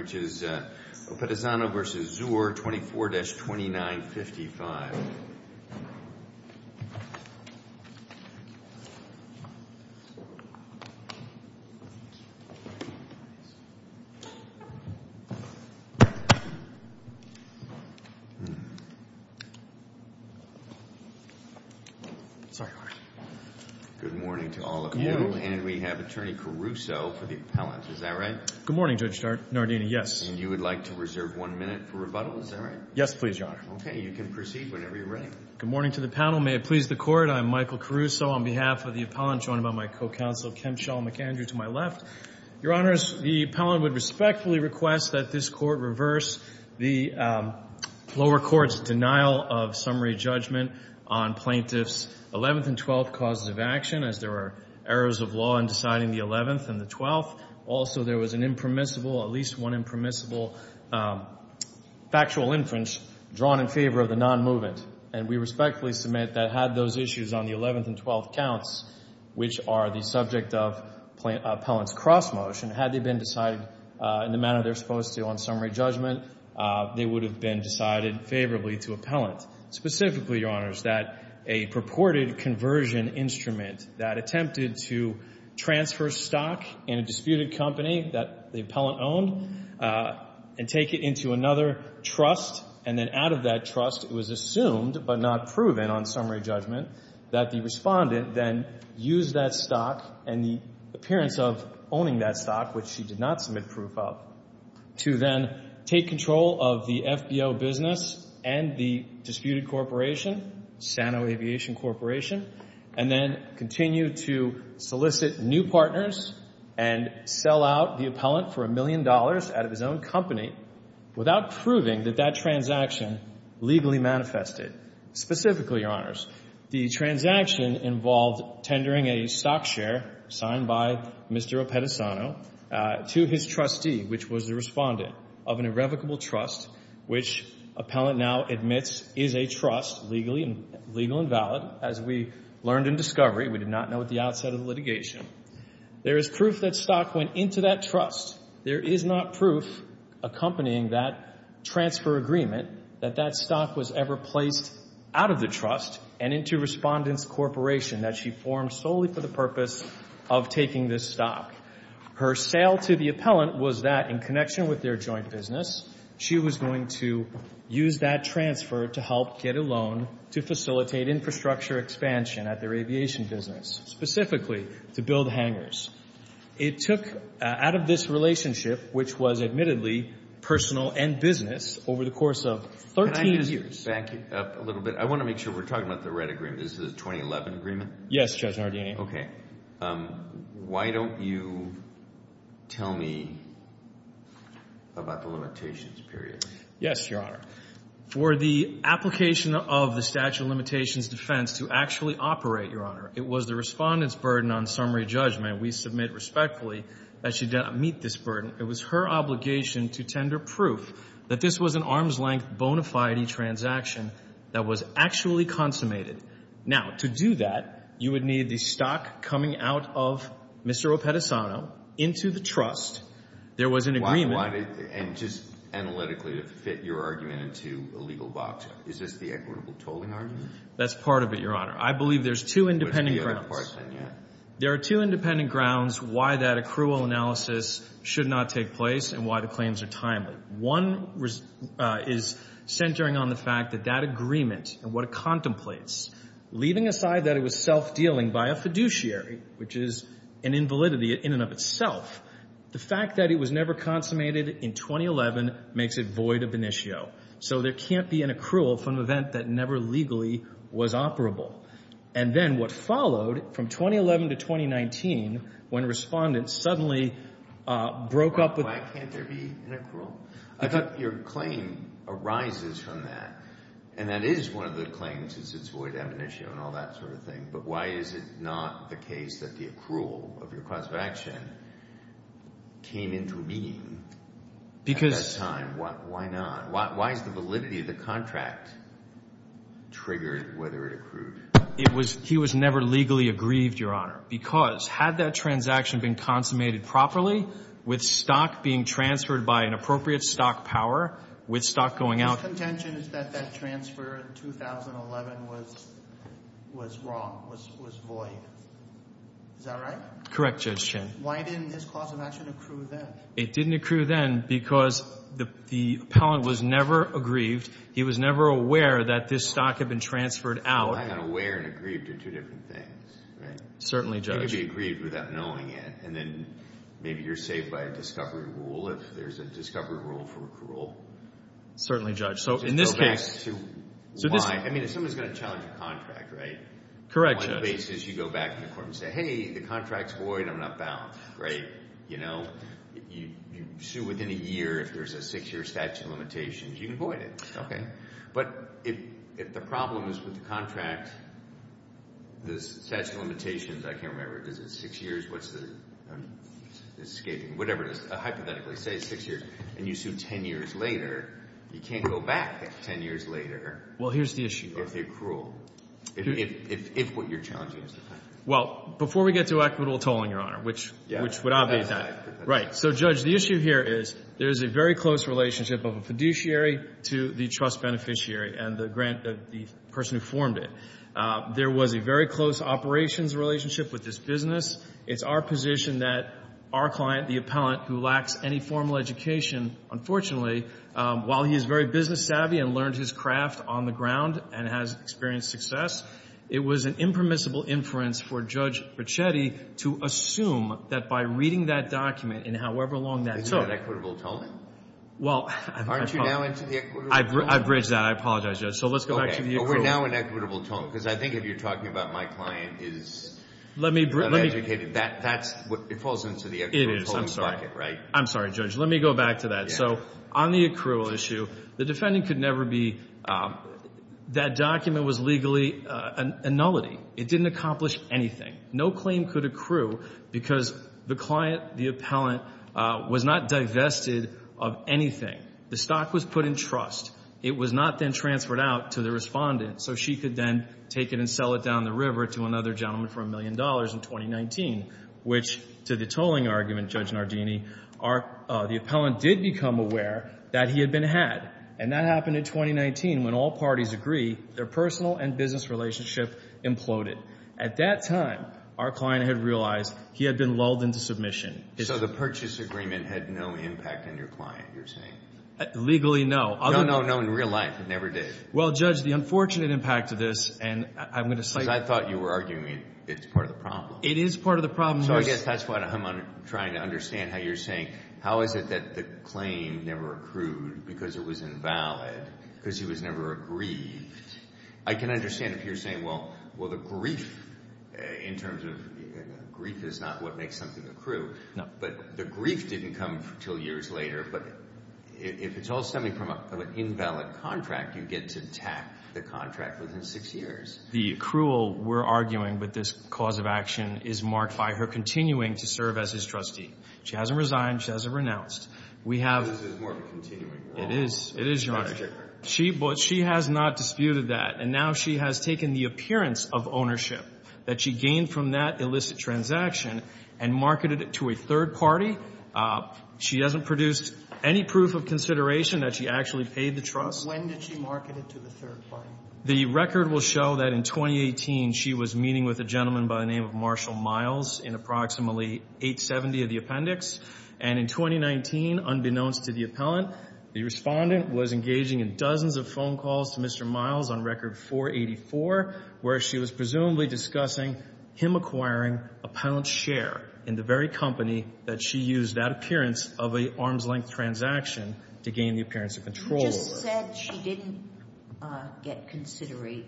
which is Oppisano v. Zur, 24-2955. Good morning to all of you. And we have Attorney Caruso for the appellant, is that right? Good morning, Judge Nardini, yes. And you would like to reserve one minute for rebuttal, is that right? Yes, please, Your Honor. Okay, you can proceed whenever you're ready. Good morning to the panel. May it please the court, I'm Michael Caruso on behalf of the appellant, joined by my co-counsel, Ken Shaw McAndrew to my left. Your Honors, the appellant would respectfully request that this court reverse the lower court's denial of summary judgment on plaintiffs' 11th and 12th causes of action as there are errors of law in deciding the 11th and the 12th. Also, there was an impermissible, at least one impermissible factual inference drawn in favor of the non-movement. And we respectfully submit that had those issues on the 11th and 12th counts, which are the subject of appellant's cross motion, had they been decided in the manner they're supposed to on summary judgment, they would have been decided favorably to appellant. Specifically, Your Honors, that a purported conversion instrument that attempted to transfer stock in a disputed company that the appellant owned and take it into another trust. And then out of that trust, it was assumed, but not proven on summary judgment, that the respondent then used that stock and the appearance of owning that stock, which she did not submit proof of, to then take control of the FBO business and the disputed corporation, Sano Aviation Corporation, and then continue to solicit new partners and sell out the appellant for a million dollars out of his own company without proving that that transaction legally manifested. Specifically, Your Honors, the transaction involved tendering a stock share signed by Mr. Appettisano to his trustee, which was the respondent of an irrevocable trust, which appellant now admits is a trust, legally and legal and valid, as we learned in discovery. We did not know at the outset of the litigation. There is proof that stock went into that trust. There is not proof, accompanying that transfer agreement, that that stock was ever placed out of the trust and into respondent's corporation that she formed solely for the purpose of taking this stock. Her sale to the appellant was that, in connection with their joint business, she was going to use that transfer to help get a loan to facilitate infrastructure expansion at their aviation business, specifically to build hangars. It took, out of this relationship, which was admittedly personal and business over the course of 13 years. Can I back you up a little bit? I want to make sure we're talking about the right agreement. This is a 2011 agreement? Yes, Judge Nardini. Okay. Why don't you tell me about the limitations period? Yes, Your Honor. For the application of the statute of limitations defense to actually operate, Your Honor, it was the respondent's burden on summary judgment. We submit respectfully that she did not meet this burden. It was her obligation to tender proof that this was an arm's-length bona fide transaction that was actually consummated. Now, to do that, you would need the stock coming out of Mr. Opetisano into the trust. There was an agreement. And just analytically, to fit your argument into a legal box, is this the equitable tolling argument? That's part of it, Your Honor. I believe there's two independent grounds. There are two independent grounds why that accrual analysis should not take place and why the claims are timely. One is centering on the fact that that agreement and what it contemplates, leaving aside that it was self-dealing by a fiduciary, which is an invalidity in and of itself, the fact that it was never consummated in 2011 makes it void ab initio. So there can't be an accrual from an event that never legally was operable. And then what followed from 2011 to 2019, when respondents suddenly broke up with— Why can't there be an accrual? I thought your claim arises from that. And that is one of the claims is it's void ab initio and all that sort of thing. But why is it not the case that the accrual of your cause of action came into being at that time? Why not? Why is the validity of the contract triggered whether it accrued? It was—he was never legally aggrieved, Your Honor, because had that transaction been consummated properly, with stock being transferred by an appropriate stock power, with stock going out— The contention is that that transfer in 2011 was wrong, was void. Is that right? Correct, Judge Chin. Why didn't his cause of action accrue then? It didn't accrue then because the appellant was never aggrieved. He was never aware that this stock had been transferred out. And aware and aggrieved are two different things, right? Certainly, Judge. It could be aggrieved without knowing it. And then maybe you're saved by a discovery rule if there's a discovery rule for accrual. Certainly, Judge. So in this case— Go back to why. I mean, if someone's going to challenge a contract, right? Correct, Judge. On what basis you go back to the court and say, hey, the contract's void. I'm not bound. Great. You know, you sue within a year. If there's a six-year statute of limitations, you can void it. Okay. But if the problem is with the contract, the statute of limitations—I can't remember. Is it six years? What's the—I'm escaping. Whatever it is. Hypothetically, say six years, and you sue 10 years later, you can't go back 10 years later— Well, here's the issue. —if they accrual, if what you're challenging is the contract. Well, before we get to equitable tolling, Your Honor, which would obviate that. Right. So, Judge, the issue here is there's a very close relationship of a fiduciary to the trust beneficiary and the person who formed it. There was a very close operations relationship with this business. It's our position that our client, the appellant, who lacks any formal education, unfortunately, while he is very business savvy and learned his craft on the ground and has experienced success, it was an impermissible inference for Judge Ricchetti to assume that by reading that document in however long that took— Isn't that equitable tolling? Well, I apologize. Aren't you now into the equitable tolling? I've bridged that. I apologize, Judge. So let's go back to the equitable— Okay. But we're now in equitable tolling, because I think if you're talking about my client is— Let me— Not educated. That's what—it falls into the equitable tolling bucket, right? I'm sorry, Judge. Let me go back to that. So on the accrual issue, the defendant could never be—that document was legally a nullity. It didn't accomplish anything. No claim could accrue because the client, the appellant, was not divested of anything. The stock was put in trust. It was not then transferred out to the respondent, so she could then take it and sell it down the river to another gentleman for a million dollars in 2019, which, to the tolling argument, Judge Nardini, the appellant did become aware that he had been had, and that happened in 2019 when all parties agree their personal and business relationship imploded. At that time, our client had realized he had been lulled into submission. So the purchase agreement had no impact on your client, you're saying? Legally, no. No, no, no. In real life, it never did. Well, Judge, the unfortunate impact of this, and I'm going to say— Because I thought you were arguing it's part of the problem. It is part of the problem. So I guess that's why I'm trying to understand how you're saying, how is it that the claim never accrued because it was invalid, because he was never aggrieved? I can understand if you're saying, well, the grief in terms of—grief is not what makes something accrue, but the grief didn't come until years later. But if it's all stemming from an invalid contract, you get to attack the contract within six years. The accrual we're arguing with this cause of action is marked by her continuing to serve as his trustee. She hasn't resigned. She hasn't renounced. We have— This is more of a continuing. It is. It is, Your Honor. That's different. She has not disputed that. And now she has taken the appearance of ownership that she gained from that illicit transaction and marketed it to a third party. She hasn't produced any proof of consideration that she actually paid the trust. When did she market it to the third party? The record will show that in 2018, she was meeting with a gentleman by the name of Marshall Miles in approximately 870 of the appendix. And in 2019, unbeknownst to the appellant, the respondent was engaging in dozens of phone calls to Mr. Miles on record 484, where she was presumably discussing him acquiring a pound's share in the very company that she used that appearance of an arm's-length transaction to gain the appearance of control. He just said he didn't get consideration.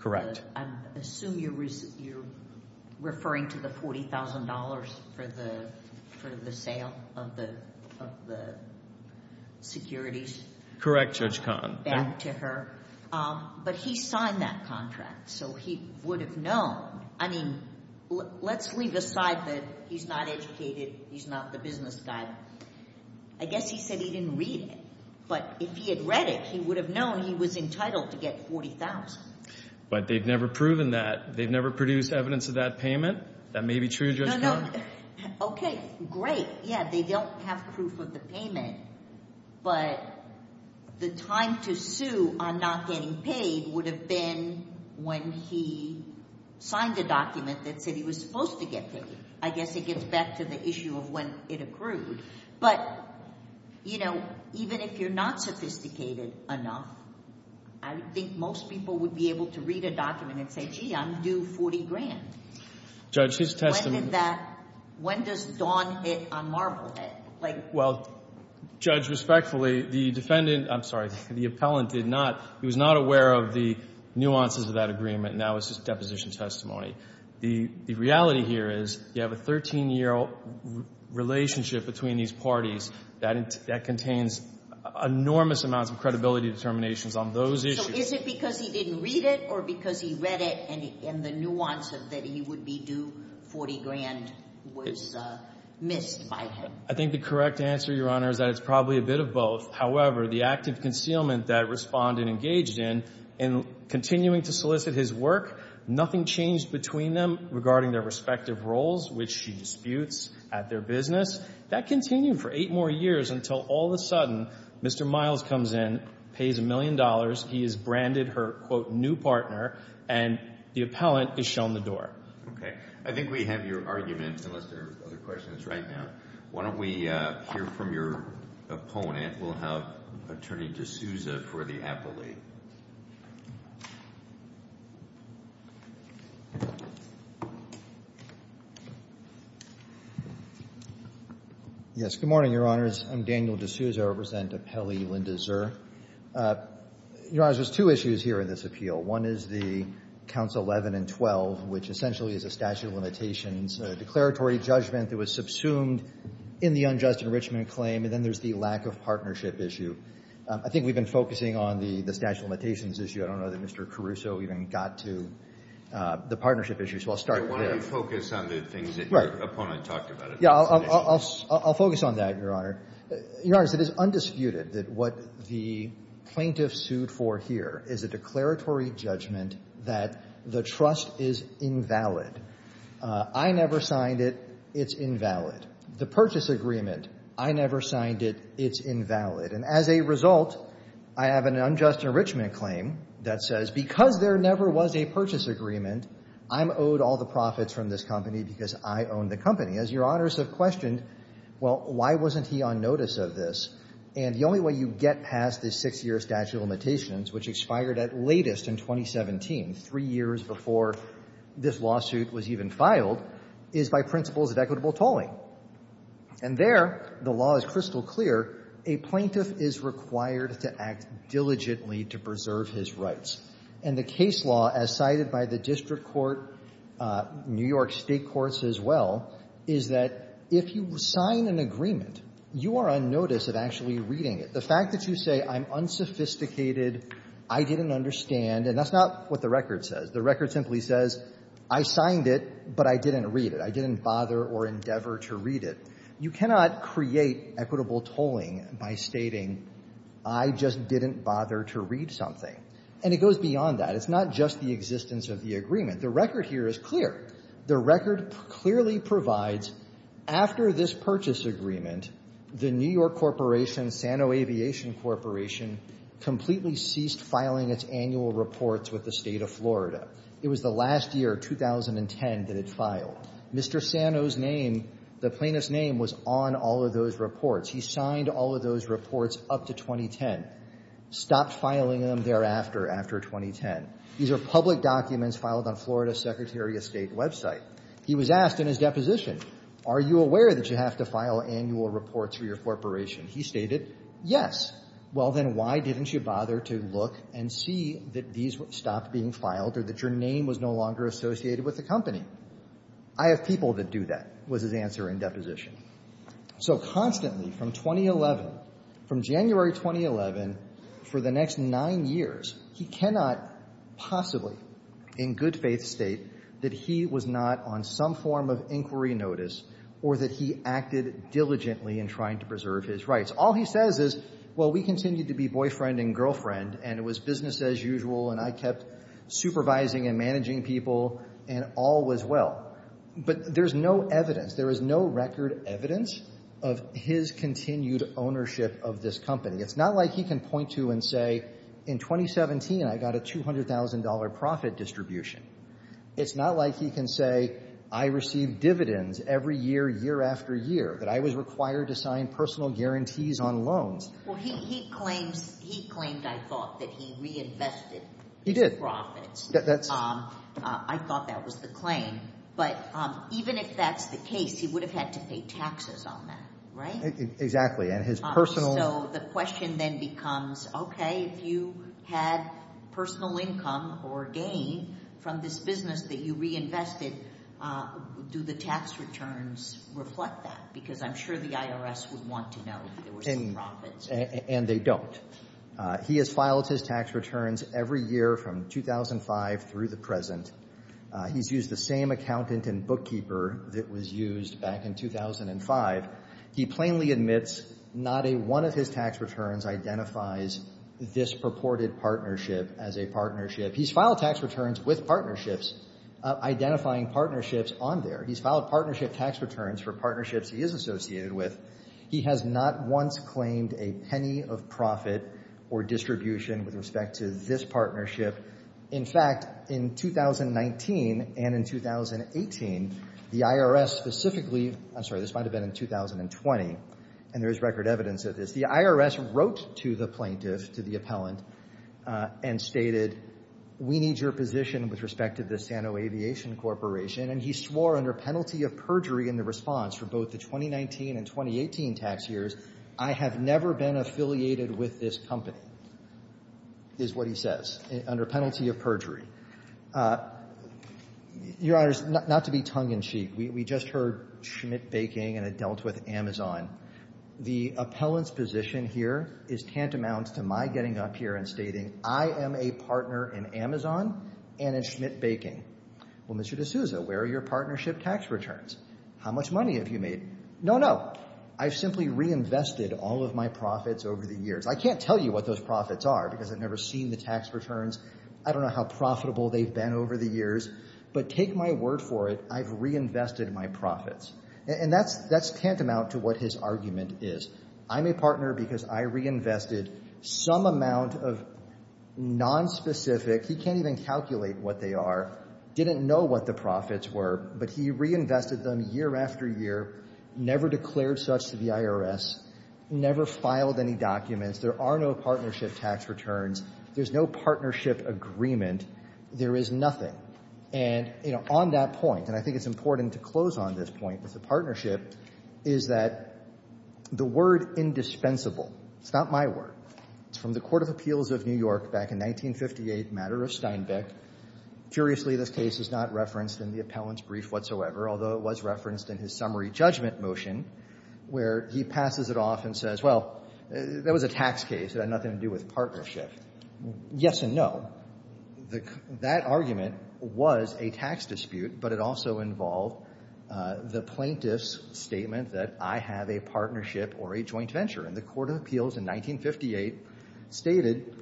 Correct. I assume you're referring to the $40,000 for the sale of the securities? Correct, Judge Kahn. Back to her. But he signed that contract, so he would have known. I mean, let's leave aside that he's not educated. He's not the business guy. I guess he said he didn't read it. But if he had read it, he would have known he was entitled to get $40,000. But they've never proven that. They've never produced evidence of that payment. That may be true, Judge Kahn. Okay, great. Yeah, they don't have proof of the payment, but the time to sue on not getting paid would have been when he signed the document that said he was supposed to get paid. I guess it gets back to the issue of when it accrued. But even if you're not sophisticated enough, I think most people would be able to read a document and say, gee, I'm due $40,000. Judge, his testimony. When does Dawn hit on Marblehead? Well, Judge, respectfully, the defendant, I'm sorry, the appellant did not. He was not aware of the nuances of that agreement. Now it's just deposition testimony. The reality here is you have a 13-year relationship between these parties that contains enormous amounts of credibility determinations on those issues. So is it because he didn't read it or because he read it and the nuance of that he would be due $40,000 was missed by him? I think the correct answer, Your Honor, is that it's probably a bit of both. However, the active concealment that Respondent engaged in, in continuing to solicit his work, nothing changed between them regarding their respective roles, which she disputes at their business. That continued for eight more years until all of a sudden Mr. Miles comes in, pays a million dollars. He has branded her, quote, new partner, and the appellant is shown the door. Okay. I think we have your argument, unless there are other questions right now. Why don't we hear from your opponent? We'll have Attorney DeSouza for the appellate. Yes. Good morning, Your Honors. I'm Daniel DeSouza. I represent Appellee Linda Zer. Your Honors, there's two issues here in this appeal. One is the counts 11 and 12, which essentially is a statute of limitations, a declaratory judgment that was subsumed in the unjust enrichment claim, and then there's the lack of partnership issue. I think we've been focusing on the statute of limitations issue. I don't know that Mr. Caruso even got to the partnership issue, so I'll start there. Why don't you focus on the things that your opponent talked about? Yeah, I'll focus on that, Your Honor. Your Honors, it is undisputed that what the plaintiff sued for here is a declaratory judgment that the trust is invalid. I never signed it. It's invalid. The purchase agreement, I never signed it. It's invalid. And as a result, I have an unjust enrichment claim that says because there never was a purchase agreement, I'm owed all the profits from this company because I own the company. As your Honors have questioned, well, why wasn't he on notice of this? And the only way you get past the six-year statute of limitations, which expired at latest in 2017, three years before this lawsuit was even filed, is by principles of equitable tolling. And there, the law is crystal clear. A plaintiff is required to act diligently to preserve his rights. And the case law, as cited by the district court, New York State courts as well, is that if you sign an agreement, you are on notice of actually reading it. The fact that you say I'm unsophisticated, I didn't understand, and that's not what the record says. The record simply says I signed it, but I didn't read it. I didn't bother or endeavor to read it. You cannot create equitable tolling by stating I just didn't bother to read something. And it goes beyond that. It's not just the existence of the agreement. The record here is clear. The record clearly provides after this purchase agreement, the New York Corporation, Sano Aviation Corporation, completely ceased filing its annual reports with the state of It was the last year, 2010, that it filed. Mr. Sano's name, the plaintiff's name, was on all of those reports. He signed all of those reports up to 2010, stopped filing them thereafter, after 2010. These are public documents filed on Florida's Secretary of State website. He was asked in his deposition, are you aware that you have to file annual reports for your corporation? He stated, yes. Well, then why didn't you bother to look and see that these stopped being filed or that your name was no longer associated with the company? I have people that do that, was his answer in deposition. So constantly from 2011, from January 2011, for the next nine years, he cannot possibly in good faith state that he was not on some form of inquiry notice or that he acted diligently in trying to preserve his rights. All he says is, well, we continued to be boyfriend and girlfriend, and it was business as usual, and I kept supervising and managing people, and all was well. But there's no evidence, there is no record evidence of his continued ownership of this company. It's not like he can point to and say, in 2017, I got a $200,000 profit distribution. It's not like he can say, I received dividends every year, year after year, that I was required to sign personal guarantees on loans. Well, he claims, he claimed, I thought, that he reinvested his profits. He did. I thought that was the claim. But even if that's the case, he would have had to pay taxes on that, right? Exactly. And his personal... So the question then becomes, okay, if you had personal income or gain from this business that you reinvested, do the tax returns reflect that? Because I'm sure the IRS would want to know if there were some profits. And they don't. He has filed his tax returns every year from 2005 through the present. He's used the same accountant and bookkeeper that was used back in 2005. He plainly admits not a one of his tax returns identifies this purported partnership as a partnership. He's filed tax returns with partnerships, identifying partnerships on there. He's filed partnership tax returns for partnerships he is associated with. He has not once claimed a penny of profit or distribution with respect to this partnership. In fact, in 2019 and in 2018, the IRS specifically... I'm sorry, this might have been in 2020. And there is record evidence of this. The IRS wrote to the plaintiff, to the appellant, and stated, we need your position with respect to the Sano Aviation Corporation. And he swore under penalty of perjury in the response for both the 2019 and 2018 tax years, I have never been affiliated with this company, is what he says. Under penalty of perjury. Your Honors, not to be tongue-in-cheek. We just heard Schmidt Baking and it dealt with Amazon. The appellant's position here is tantamount to my getting up here and stating, I am a partner in Amazon and in Schmidt Baking. Well, Mr. D'Souza, where are your partnership tax returns? How much money have you made? No, no. I've simply reinvested all of my profits over the years. I can't tell you what those profits are because I've never seen the tax returns. I don't know how profitable they've been over the years. But take my word for it, I've reinvested my profits. And that's tantamount to what his argument is. I'm a partner because I reinvested some amount of non-specific, he can't even calculate what they are, didn't know what the profits were. But he reinvested them year after year, never declared such to the IRS, never filed any documents. There are no partnership tax returns. There's no partnership agreement. There is nothing. And, you know, on that point, and I think it's important to close on this point with the partnership, is that the word indispensable, it's not my word, it's from the Court of Appeals of New York back in 1958, matter of Steinbeck. Curiously, this case is not referenced in the appellant's brief whatsoever, although it was referenced in his summary judgment motion, where he passes it off and says, well, that was a tax case. It had nothing to do with partnership. Yes and no. That argument was a tax dispute, but it also involved the plaintiff's statement that I have a partnership or a joint venture. And the Court of Appeals in 1958 stated,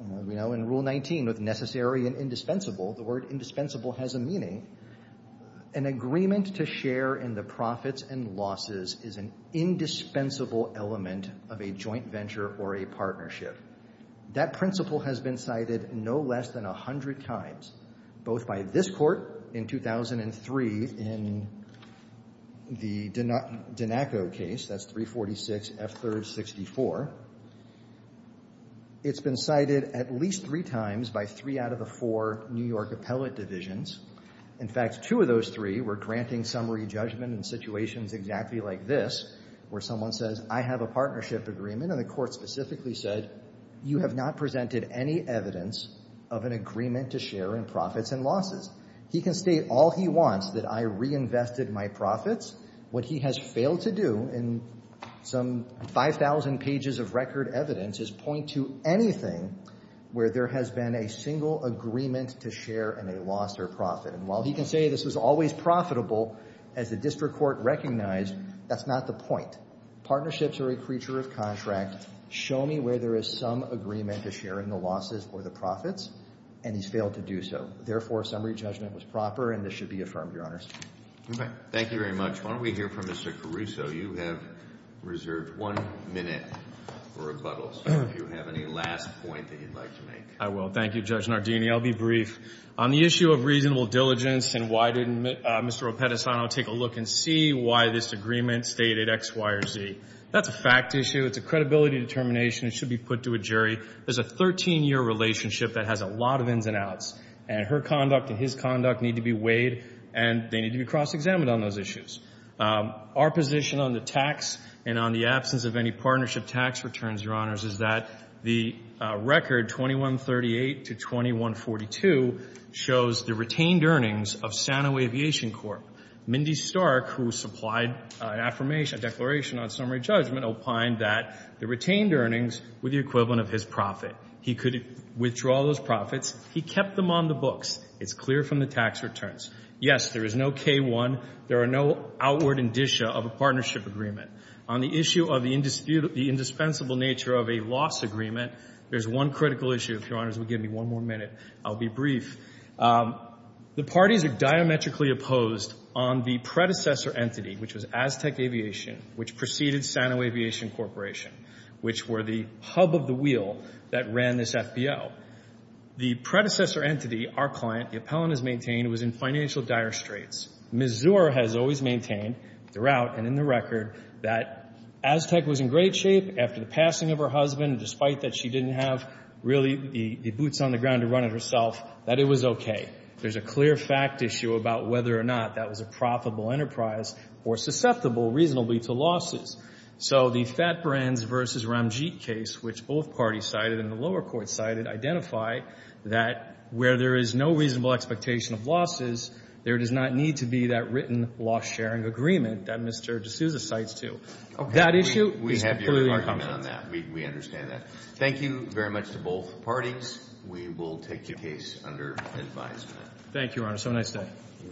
you know, in Rule 19, with necessary and indispensable, the word indispensable has a meaning, an agreement to share in the profits and losses is an indispensable element of a joint venture or a partnership. That principle has been cited no less than a hundred times, both by this court in 2003 in the Danacco case, that's 346 F. 3rd 64. It's been cited at least three times by three out of the four New York appellate divisions. In fact, two of those three were granting summary judgment in situations exactly like this, where someone says, I have a partnership agreement. And the court specifically said, you have not presented any evidence of an agreement to share in profits and losses. He can state all he wants that I reinvested my profits. What he has failed to do in some 5,000 pages of record evidence is point to anything where there has been a single agreement to share in a loss or profit. And while he can say this was always profitable, as the district court recognized, that's not the point. Partnerships are a creature of contract. Show me where there is some agreement to share in the losses or the profits. And he's failed to do so. Therefore, summary judgment was proper. And this should be affirmed, Your Honors. Okay. Thank you very much. Why don't we hear from Mr. Caruso. You have reserved one minute for rebuttals. If you have any last point that you'd like to make. I will. Thank you, Judge Nardini. I'll be brief. On the issue of reasonable diligence, and why didn't Mr. Opedisano take a look and see why this agreement stated X, Y, or Z? That's a fact issue. It's a credibility determination. It should be put to a jury. There's a 13-year relationship that has a lot of ins and outs. And her conduct and his conduct need to be weighed. And they need to be cross-examined on those issues. Our position on the tax and on the absence of any partnership tax returns, is that the record 2138 to 2142 shows the retained earnings of Sano Aviation Corp. Mindy Stark, who supplied an affirmation, a declaration on summary judgment, opined that the retained earnings were the equivalent of his profit. He could withdraw those profits. He kept them on the books. It's clear from the tax returns. Yes, there is no K-1. There are no outward indicia of a partnership agreement. On the issue of the indispensable nature of a loss agreement, there's one critical issue, if Your Honors will give me one more minute. I'll be brief. The parties are diametrically opposed on the predecessor entity, which was Aztec Aviation, which preceded Sano Aviation Corp., which were the hub of the wheel that ran this FBO. The predecessor entity, our client, the appellant has maintained, was in financial dire straits. Ms. Zuer has always maintained, throughout and in the record, that Aztec was in great shape after the passing of her husband, despite that she didn't have really the boots on the ground to run it herself, that it was okay. There's a clear fact issue about whether or not that was a profitable enterprise or susceptible reasonably to losses. So the Fat Brands v. Ramjeet case, which both parties cited and the lower court cited, identify that where there is no reasonable expectation of losses, there does not need to be that written loss-sharing agreement that Mr. D'Souza cites too. Okay. That issue, we have clearly our comment on that. We understand that. Thank you very much to both parties. We will take your case under advisement. Thank you, Your Honor. So nice to have you.